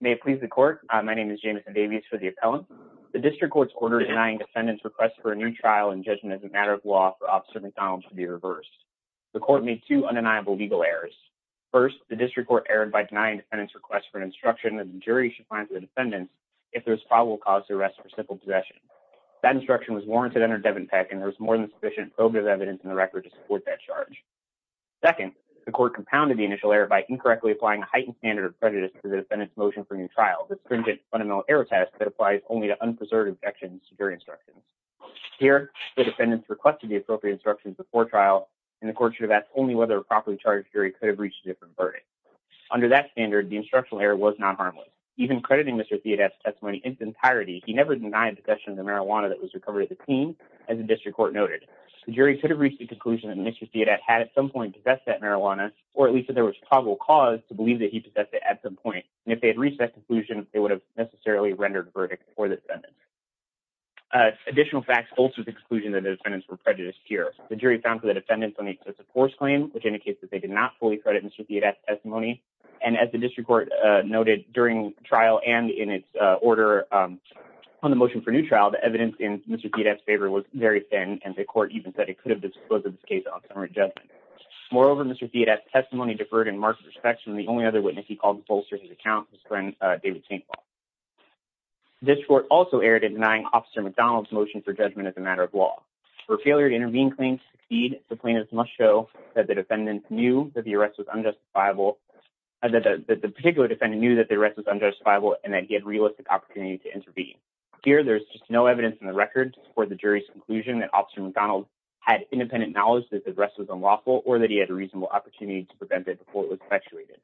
May it please the court, my name is James Davis for the appellant. The district court's order denying defendants request for a new trial and judgment as a matter of law for officer McDonald to be reversed. The court made two undeniable legal errors. First, the district court erred by denying defendants request for an instruction that the jury should find the defendants if there's probable cause to arrest for simple possession. That instruction was warranted under Devin Peck and there was more than sufficient probative evidence in the record to support that charge. Second, the court compounded the initial error by incorrectly applying a heightened standard of prejudice to the defendants motion for new trial, the stringent fundamental error test that applies only to unpreserved objections to jury instructions. Here, the defendants requested the appropriate instructions before trial and the court should have asked only whether a properly charged jury could have reached a different verdict. Under that standard, the instructional error was non-harmless. Even crediting Mr. Theodat's testimony in its entirety, he never denied possession of the marijuana that was recovered as a teen, as the district court noted. The jury could have reached the conclusion that Mr. Theodat had at some point possessed that marijuana, or at least that there was probable cause to believe that he possessed it at some point. And if they had reached that conclusion, they would have necessarily rendered verdict for the defendant. Additional facts bolstered the conclusion that the defendants were prejudiced here. The jury found for the defendants on the excessive force claim, which indicates that they did not fully credit Mr. Theodat's testimony. And as the district court noted during trial and in its order on the motion for new trial, the evidence in Mr. Theodat's testimony was very thin, and the court even said it could have disclosed this case on current judgment. Moreover, Mr. Theodat's testimony deferred in marked respect from the only other witness he called bolstered his account, his friend David St. Paul. This court also erred in denying Officer McDonald's motion for judgment as a matter of law. For a failure to intervene claim to succeed, the plaintiffs must show that the defendant knew that the arrest was unjustifiable, that the particular defendant knew that the arrest was unjustifiable and that he had realistic opportunity to intervene. Here, there's just no evidence in the record for the jury's conclusion that Officer McDonald had independent knowledge that the arrest was unlawful or that he had a reasonable opportunity to prevent it before it was perpetuated.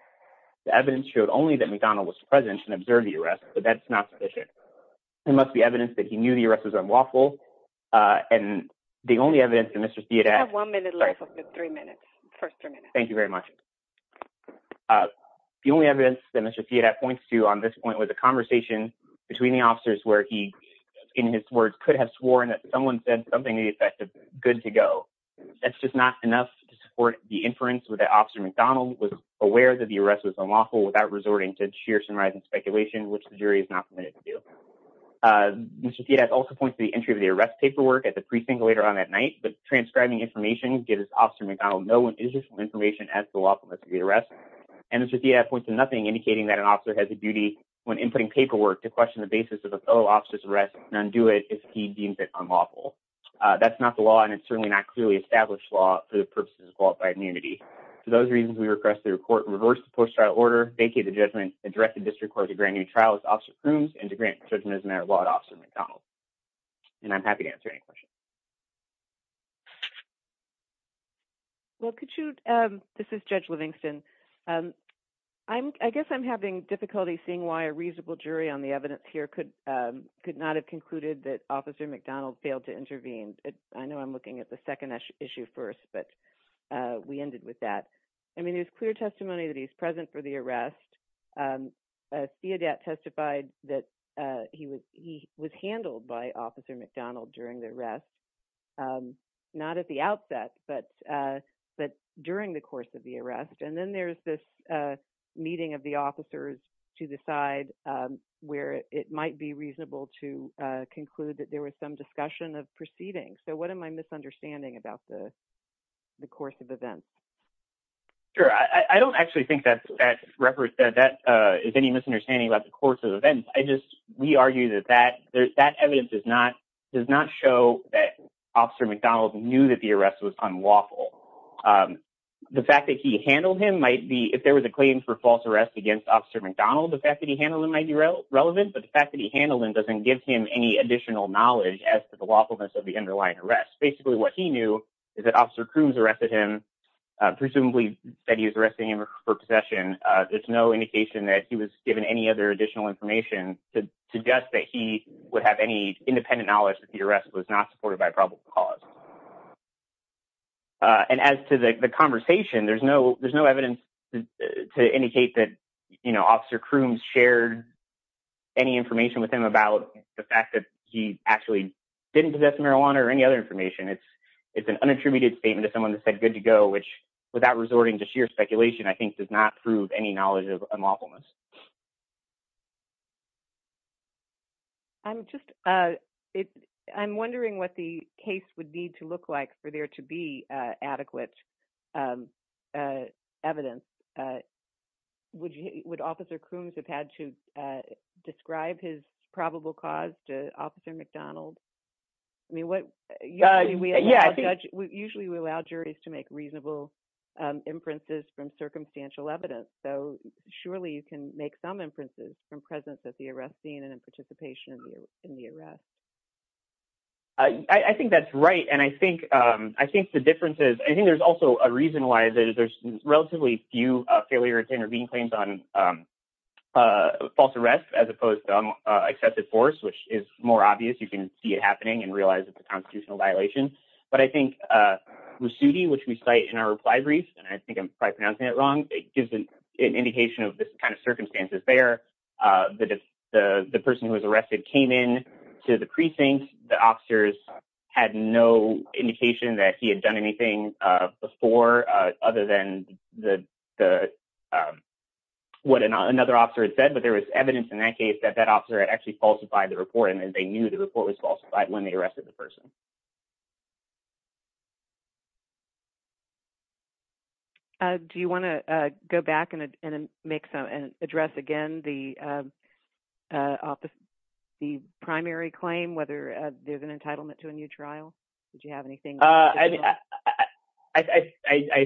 The evidence showed only that McDonald was present and observed the arrest, but that's not sufficient. There must be evidence that he knew the arrest was unlawful. And the only evidence that Mr. Theodat... I have one minute left. Three minutes. First three minutes. Thank you very much. The only evidence that Mr. Theodat points to on this point was a that someone said something to the effect of good to go. That's just not enough to support the inference that Officer McDonald was aware that the arrest was unlawful without resorting to sheer sunrise and speculation, which the jury is not permitted to do. Mr. Theodat also points to the entry of the arrest paperwork at the precinct later on that night, but transcribing information gives Officer McDonald no additional information as to the lawfulness of the arrest. And Mr. Theodat points to nothing indicating that an officer has a duty when inputting if he deems it unlawful. That's not the law, and it's certainly not clearly established law for the purposes of qualified immunity. For those reasons, we request the court reverse the post-trial order, vacate the judgment, and direct the district court to grant a new trial with Officer Crooms and to grant judgment as a matter of law to Officer McDonald. And I'm happy to answer any questions. Well, could you... This is Judge Livingston. I guess I'm having difficulty seeing why a reasonable jury on the evidence here could not have concluded that Officer McDonald failed to intervene. I know I'm looking at the second issue first, but we ended with that. I mean, there's clear testimony that he's present for the arrest. Theodat testified that he was handled by Officer McDonald during the arrest, not at the outset, but during the course of the arrest. And then there's this meeting of the officers to decide it might be reasonable to conclude that there was some discussion of proceedings. So what am I misunderstanding about the course of events? Sure. I don't actually think that is any misunderstanding about the course of events. I just... We argue that that evidence does not show that Officer McDonald knew that the arrest was unlawful. The fact that he handled him might be... If there was a claim for false arrest against Officer McDonald, the fact that he handled him might be relevant, but the fact that he handled him doesn't give him any additional knowledge as to the lawfulness of the underlying arrest. Basically, what he knew is that Officer Crooms arrested him, presumably that he was arresting him for possession. There's no indication that he was given any other additional information to suggest that he would have any independent knowledge that the arrest was not supported by probable cause. And as to the conversation, there's no evidence to indicate that Officer Crooms shared any information with him about the fact that he actually didn't possess marijuana or any other information. It's an unattributed statement to someone that said, good to go, which without resorting to sheer speculation, I think does not prove any knowledge of unlawfulness. I'm just... I'm wondering what the case would need to look like for there to be adequate evidence. Would Officer Crooms have had to describe his probable cause to Officer McDonald? Usually we allow juries to make reasonable inferences from circumstantial evidence. So surely you can make some inferences from presence at the arrest scene and participation in the arrest. I think that's right. And I think the difference is... I think there's also a reason why there's relatively few failure to intervene claims on false arrest as opposed to accepted force, which is more obvious. You can see it happening and realize it's a constitutional violation. But I think Rusuti, which we cite in our reply brief, and I think I'm probably pronouncing it wrong, it gives an indication of this kind of circumstances there. The person who was arrested came in to the precinct. The officers had no indication that he had done anything before other than what another officer had said. But there was evidence in that case that that officer had actually falsified the report and then they knew the report was falsified when they arrested the person. Do you want to go back and address again the primary claim, whether there's an entitlement to a new trial? Did you have anything? I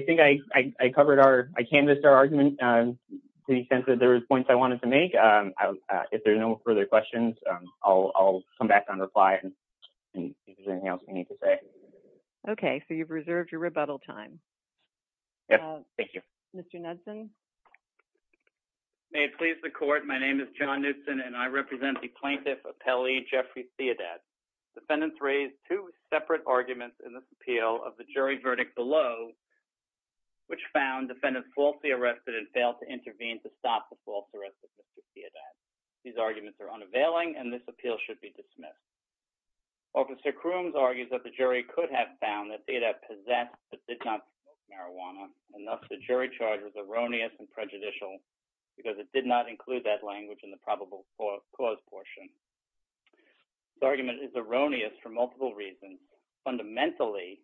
think I covered our... I canvassed our argument to the extent that there was points I wanted to make. If there's no further questions, I'll come back on reply and see if there's anything else we need to say. Okay. So you've reserved your rebuttal time. Yes. Thank you. Mr. Knudson. May it please the court. My name is John Knudson and I represent the plaintiff appellee, Jeffrey Theodat. Defendants raised two separate arguments in this appeal of the jury verdict below, which found defendants falsely arrested and failed to intervene to stop the false arrest of Mr. Theodat. These arguments are unavailing and this appeal should be dismissed. Officer Crooms argues that the jury could have found that Theodat possessed but did not smoke marijuana, and thus the jury charge was erroneous and prejudicial because it did not include that This argument is erroneous for multiple reasons. Fundamentally,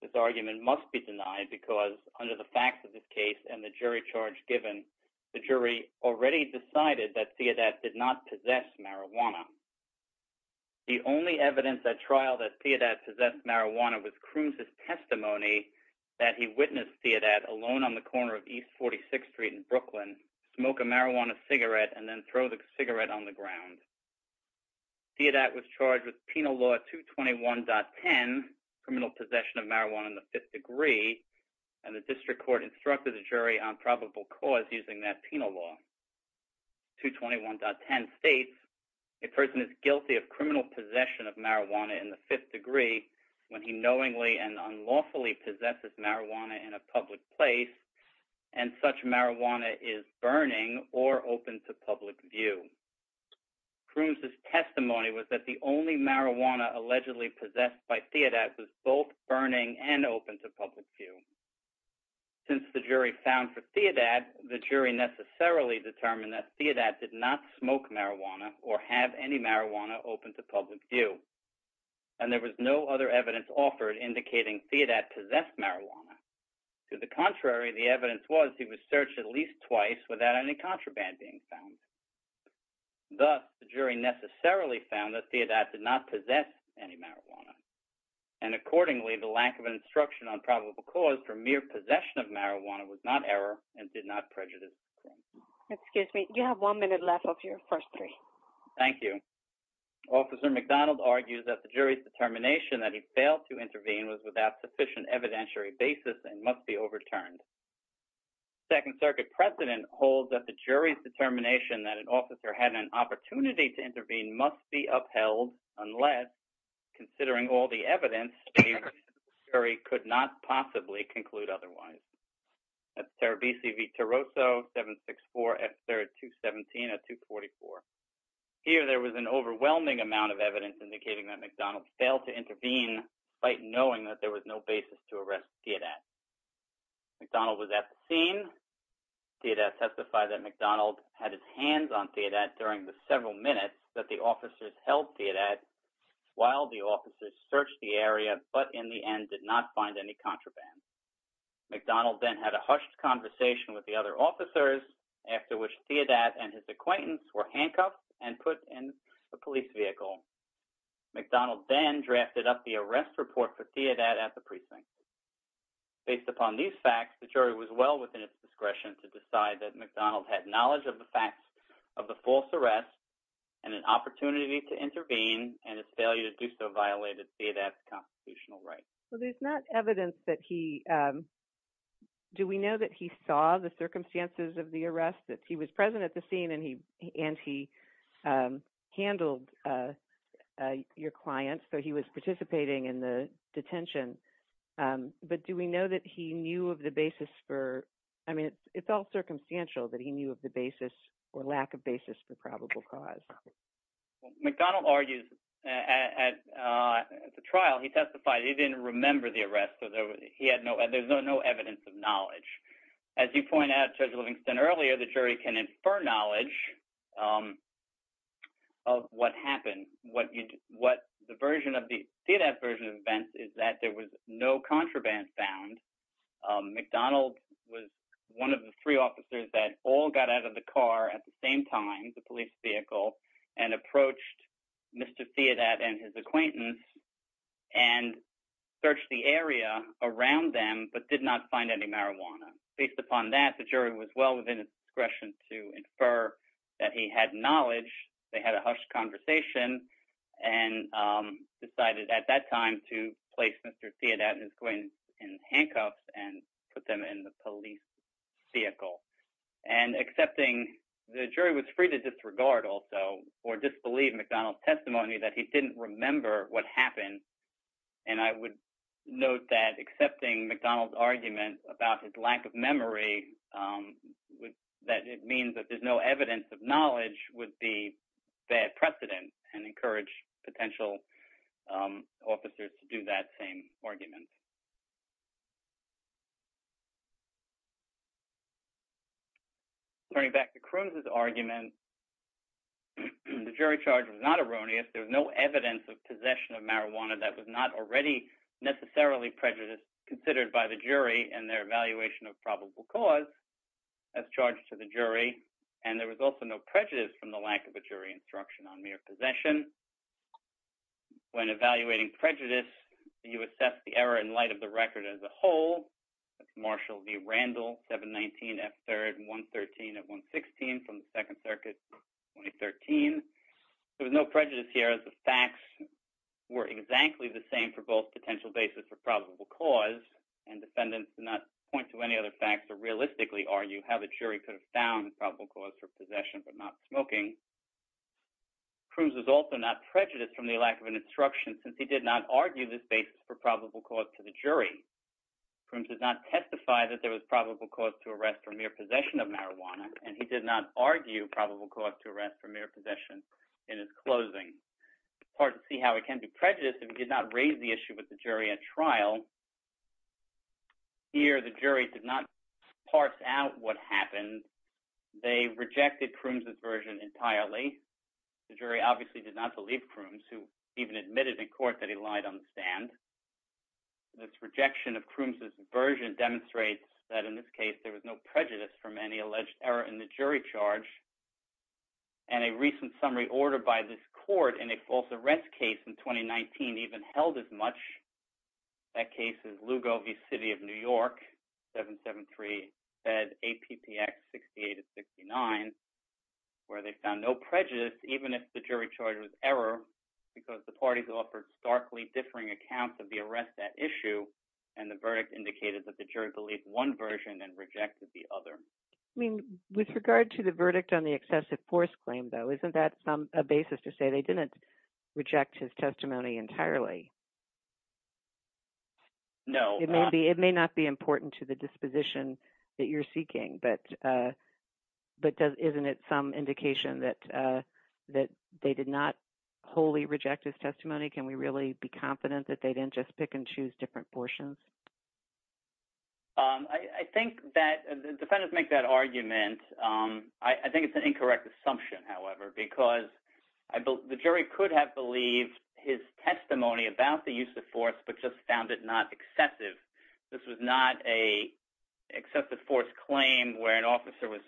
this argument must be denied because under the facts of this case and the jury charge given, the jury already decided that Theodat did not possess marijuana. The only evidence at trial that Theodat possessed marijuana was Crooms' testimony that he witnessed Theodat alone on the corner of East 46th Street in with Penal Law 221.10, Criminal Possession of Marijuana in the Fifth Degree, and the district court instructed the jury on probable cause using that penal law. 221.10 states, a person is guilty of criminal possession of marijuana in the fifth degree when he knowingly and unlawfully possesses marijuana in a public place and such marijuana is burning or open to public view. Crooms' testimony was that the only marijuana allegedly possessed by Theodat was both burning and open to public view. Since the jury found for Theodat, the jury necessarily determined that Theodat did not smoke marijuana or have any marijuana open to public view, and there was no other evidence offered indicating Theodat possessed marijuana. To the contrary, the evidence was he was searched at least twice without any contraband being found. Thus, the jury necessarily found that Theodat did not possess any marijuana, and accordingly, the lack of instruction on probable cause for mere possession of marijuana was not error and did not prejudice. Excuse me, you have one minute left of your first three. Thank you. Officer McDonald argues that the jury's determination that he failed to intervene was without sufficient evidentiary basis and must be overturned. Second Circuit precedent holds that the jury's determination that an officer had an opportunity to intervene must be upheld unless, considering all the evidence, the jury could not possibly conclude otherwise. That's Terebisi v. Torosso, 764 at 3rd, 217 at 244. Here, there was an overwhelming amount evidence indicating that McDonald failed to intervene despite knowing that there was no basis to arrest Theodat. McDonald was at the scene. Theodat testified that McDonald had his hands on Theodat during the several minutes that the officers held Theodat while the officers searched the area but, in the end, did not find any contraband. McDonald then had a hushed conversation with the other officers after which Theodat and his acquaintance were handcuffed and put in a McDonald then drafted up the arrest report for Theodat at the precinct. Based upon these facts, the jury was well within its discretion to decide that McDonald had knowledge of the facts of the false arrest and an opportunity to intervene and his failure to do so violated Theodat's constitutional rights. Well, there's not evidence that he, um, do we know that he saw the your client, so he was participating in the detention, um, but do we know that he knew of the basis for, I mean, it felt circumstantial that he knew of the basis or lack of basis for probable cause. McDonald argues at, uh, at the trial he testified he didn't remember the arrest so there was, he had no, there's no evidence of knowledge. As you point out Judge Livingston earlier, the jury can infer knowledge, um, of what happened. What you, what the version of the, Theodat's version of events is that there was no contraband found. Um, McDonald was one of the three officers that all got out of the car at the same time, the police vehicle, and approached Mr. Theodat and his acquaintance and searched the area around them but did not any marijuana. Based upon that, the jury was well within its discretion to infer that he had knowledge, they had a hushed conversation, and, um, decided at that time to place Mr. Theodat and his acquaintance in handcuffs and put them in the police vehicle. And accepting, the jury was free to disregard also or disbelieve McDonald's testimony that he didn't remember what happened and I would note that accepting McDonald's argument about his lack of memory, um, that it means that there's no evidence of knowledge would be bad precedent and encourage potential, um, officers to do that same argument. Turning back to Croons' argument, the jury charge was not erroneous, there was no evidence of marijuana that was not already necessarily prejudiced considered by the jury and their evaluation of probable cause as charged to the jury and there was also no prejudice from the lack of a jury instruction on mere possession. When evaluating prejudice, you assess the error in light of the record as a whole. That's Marshall v. Randall, 719 F3rd 113 at 116 from the Second Amendment. The prejudice here is the facts were exactly the same for both potential basis for probable cause and defendants do not point to any other facts or realistically argue how the jury could have found probable cause for possession but not smoking. Croons was also not prejudiced from the lack of an instruction since he did not argue this basis for probable cause to the jury. Croons did not testify that there was probable cause to arrest for mere possession of marijuana and he did not argue probable cause to arrest for mere possession in his closing. It's hard to see how it can be prejudiced if you did not raise the issue with the jury at trial. Here the jury did not parse out what happened, they rejected Croons' version entirely. The jury obviously did not believe Croons who even admitted in court that he lied on the stand. This rejection of Croons' version demonstrates that in this case there was no prejudice from any alleged error in the jury charge and a recent summary order by this court in a false arrest case in 2019 even held as much. That case is Lugo v. City of New York 773 Fed APPX 68-69 where they found no prejudice even if the jury charge was error because the parties offered starkly differing accounts of the arrest at issue and the verdict indicated that the jury believed one version and rejected the other. I mean with regard to the verdict on the excessive force claim though isn't that some a basis to say they didn't reject his testimony entirely? No it may be it may not be important to the disposition that you're seeking but uh but isn't it some indication that uh that they did not wholly reject his testimony? Can we really be confident that they didn't just pick and choose different portions? Um I think that the defendants make that argument um I think it's an incorrect assumption however because I believe the jury could have believed his testimony about the use of force but just found it not excessive. This was not a excessive force claim where an officer was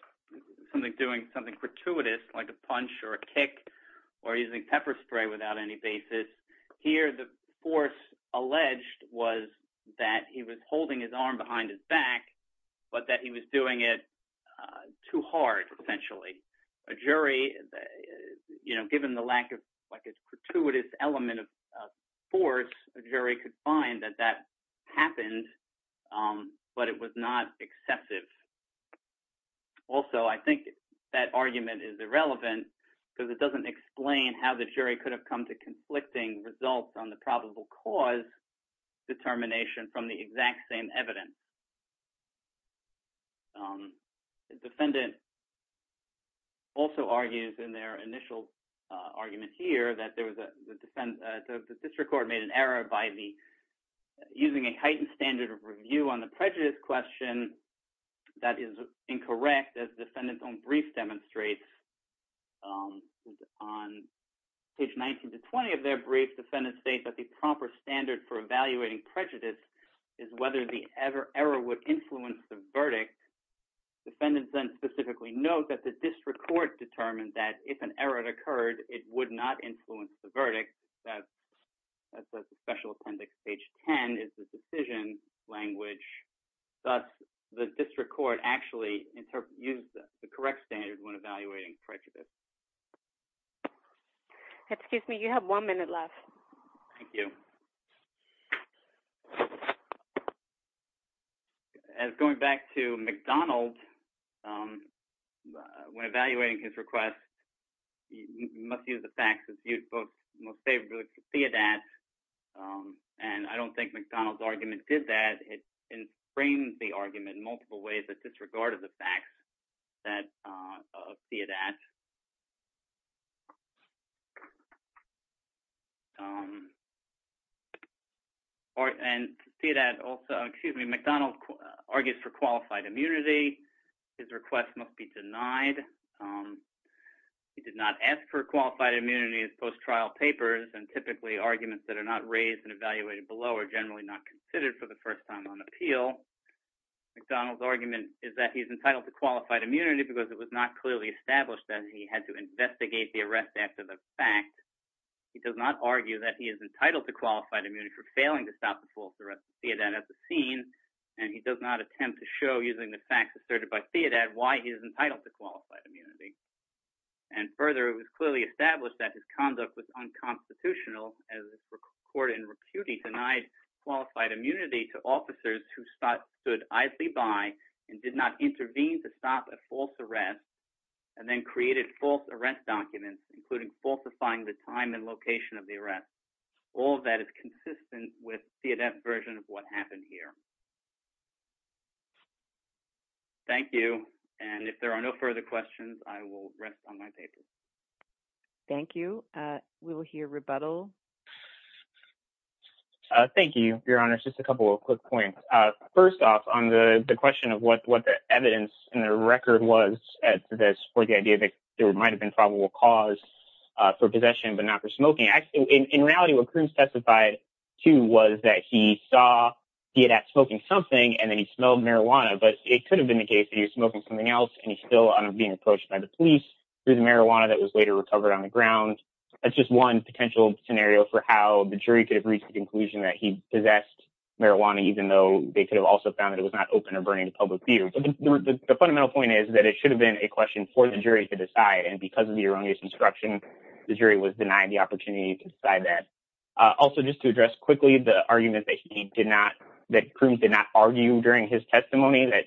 something doing something gratuitous like a punch or a kick or using pepper spray without any basis. Here the force alleged was that he was holding his arm behind his back but that he was doing it too hard potentially. A jury you know given the lack of like a gratuitous element of force a jury could find that that happened um but it was not exceptive. Also I think that argument is irrelevant because it doesn't explain how the jury could have come to conflicting results on the probable cause determination from the exact same evidence. Um the defendant also argues in their initial uh argument here that there was a the defense the district court made an error by the using a heightened standard of review on the prejudice question that is incorrect as defendant's own brief demonstrates. Um on page 19 to 20 of their brief defendants state that the proper standard for evaluating prejudice is whether the ever error would influence the verdict. Defendants then specifically note that the district court determined that if an error occurred it would not influence the verdict that that's what the special appendix page 10 is the decision language thus the district court actually used the correct standard when evaluating prejudice. Excuse me you have one minute left. Thank you. As going back to McDonald um when evaluating his request you must use the facts as you both most favorably see it at um and I don't think McDonald's argument did that it framed the argument multiple ways that disregard of the facts that uh see it at. Um or and see that also excuse me McDonald argues for qualified immunity his request must be denied um he did not ask for qualified immunity as post-trial papers and typically arguments that are not raised and evaluated below are generally not considered for the first time on appeal. McDonald's argument is that he's entitled to qualified immunity because it was not clearly established that he had to investigate the arrest after the fact. He does not argue that he is entitled to qualified immunity for failing to stop the false arrest of Theodat at the scene and he does not attempt to show using the facts asserted by Theodat why he is entitled to qualified immunity and further it was clearly established that his conduct was unconstitutional as recorded in repute denied qualified immunity to officers who stood idly by and did not intervene to stop a false arrest and then created false arrest documents including falsifying the time and location of the arrest. All that is consistent with Theodat's version of what happened here. Thank you and if there are no further questions I will rest on my paper. Thank you uh we will hear rebuttal. Uh thank you your honor just a couple of quick points uh first off on the the question of what what the evidence and the record was at this for the idea that there might have been probable cause uh for possession but not for smoking actually in reality what Karim specified too was that he saw Theodat smoking something and then he smelled marijuana but it could have been the case that he's smoking something else and he's still on being approached by the police through the marijuana that was later recovered on the ground that's just one potential scenario for how the jury could have reached the conclusion that he possessed marijuana even though they could have also found that it was not open or burning to public view but the fundamental point is that it should have been a question for the jury to decide and because of the erroneous instruction the jury was denied the opportunity to decide that. Also just to address quickly the argument that he did not that Karim did not argue during his testimony that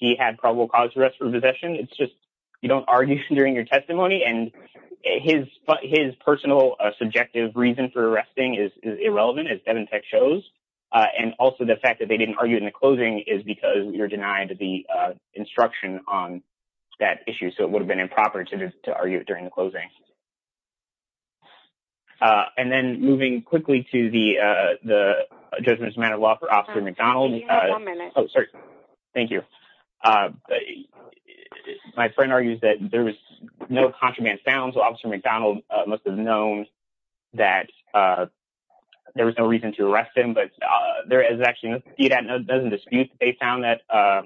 he had probable cause arrest for possession it's just you don't argue during your testimony and his his personal subjective reason for arresting is irrelevant as Devantech shows uh and also the fact that they didn't argue in the closing is because you're denied the uh instruction on that issue so it would have been improper to to argue during the closing. Uh and then moving quickly to the uh judgment as a matter of law for officer McDonald. Oh sorry thank you. Uh my friend argues that there was no contraband found so officer McDonald must have known that uh there was no reason to arrest him but uh there is actually no dispute that they found that uh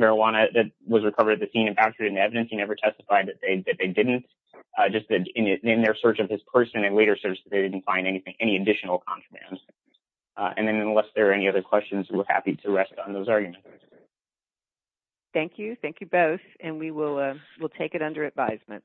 marijuana that was recovered at the scene and captured in the evidence he never testified that they that they didn't uh just that in their search of his person and later search they didn't find anything any additional contraband and then unless there are any other questions we're happy to rest on those arguments. Thank you. Thank you both and we will uh we'll take it under advisement.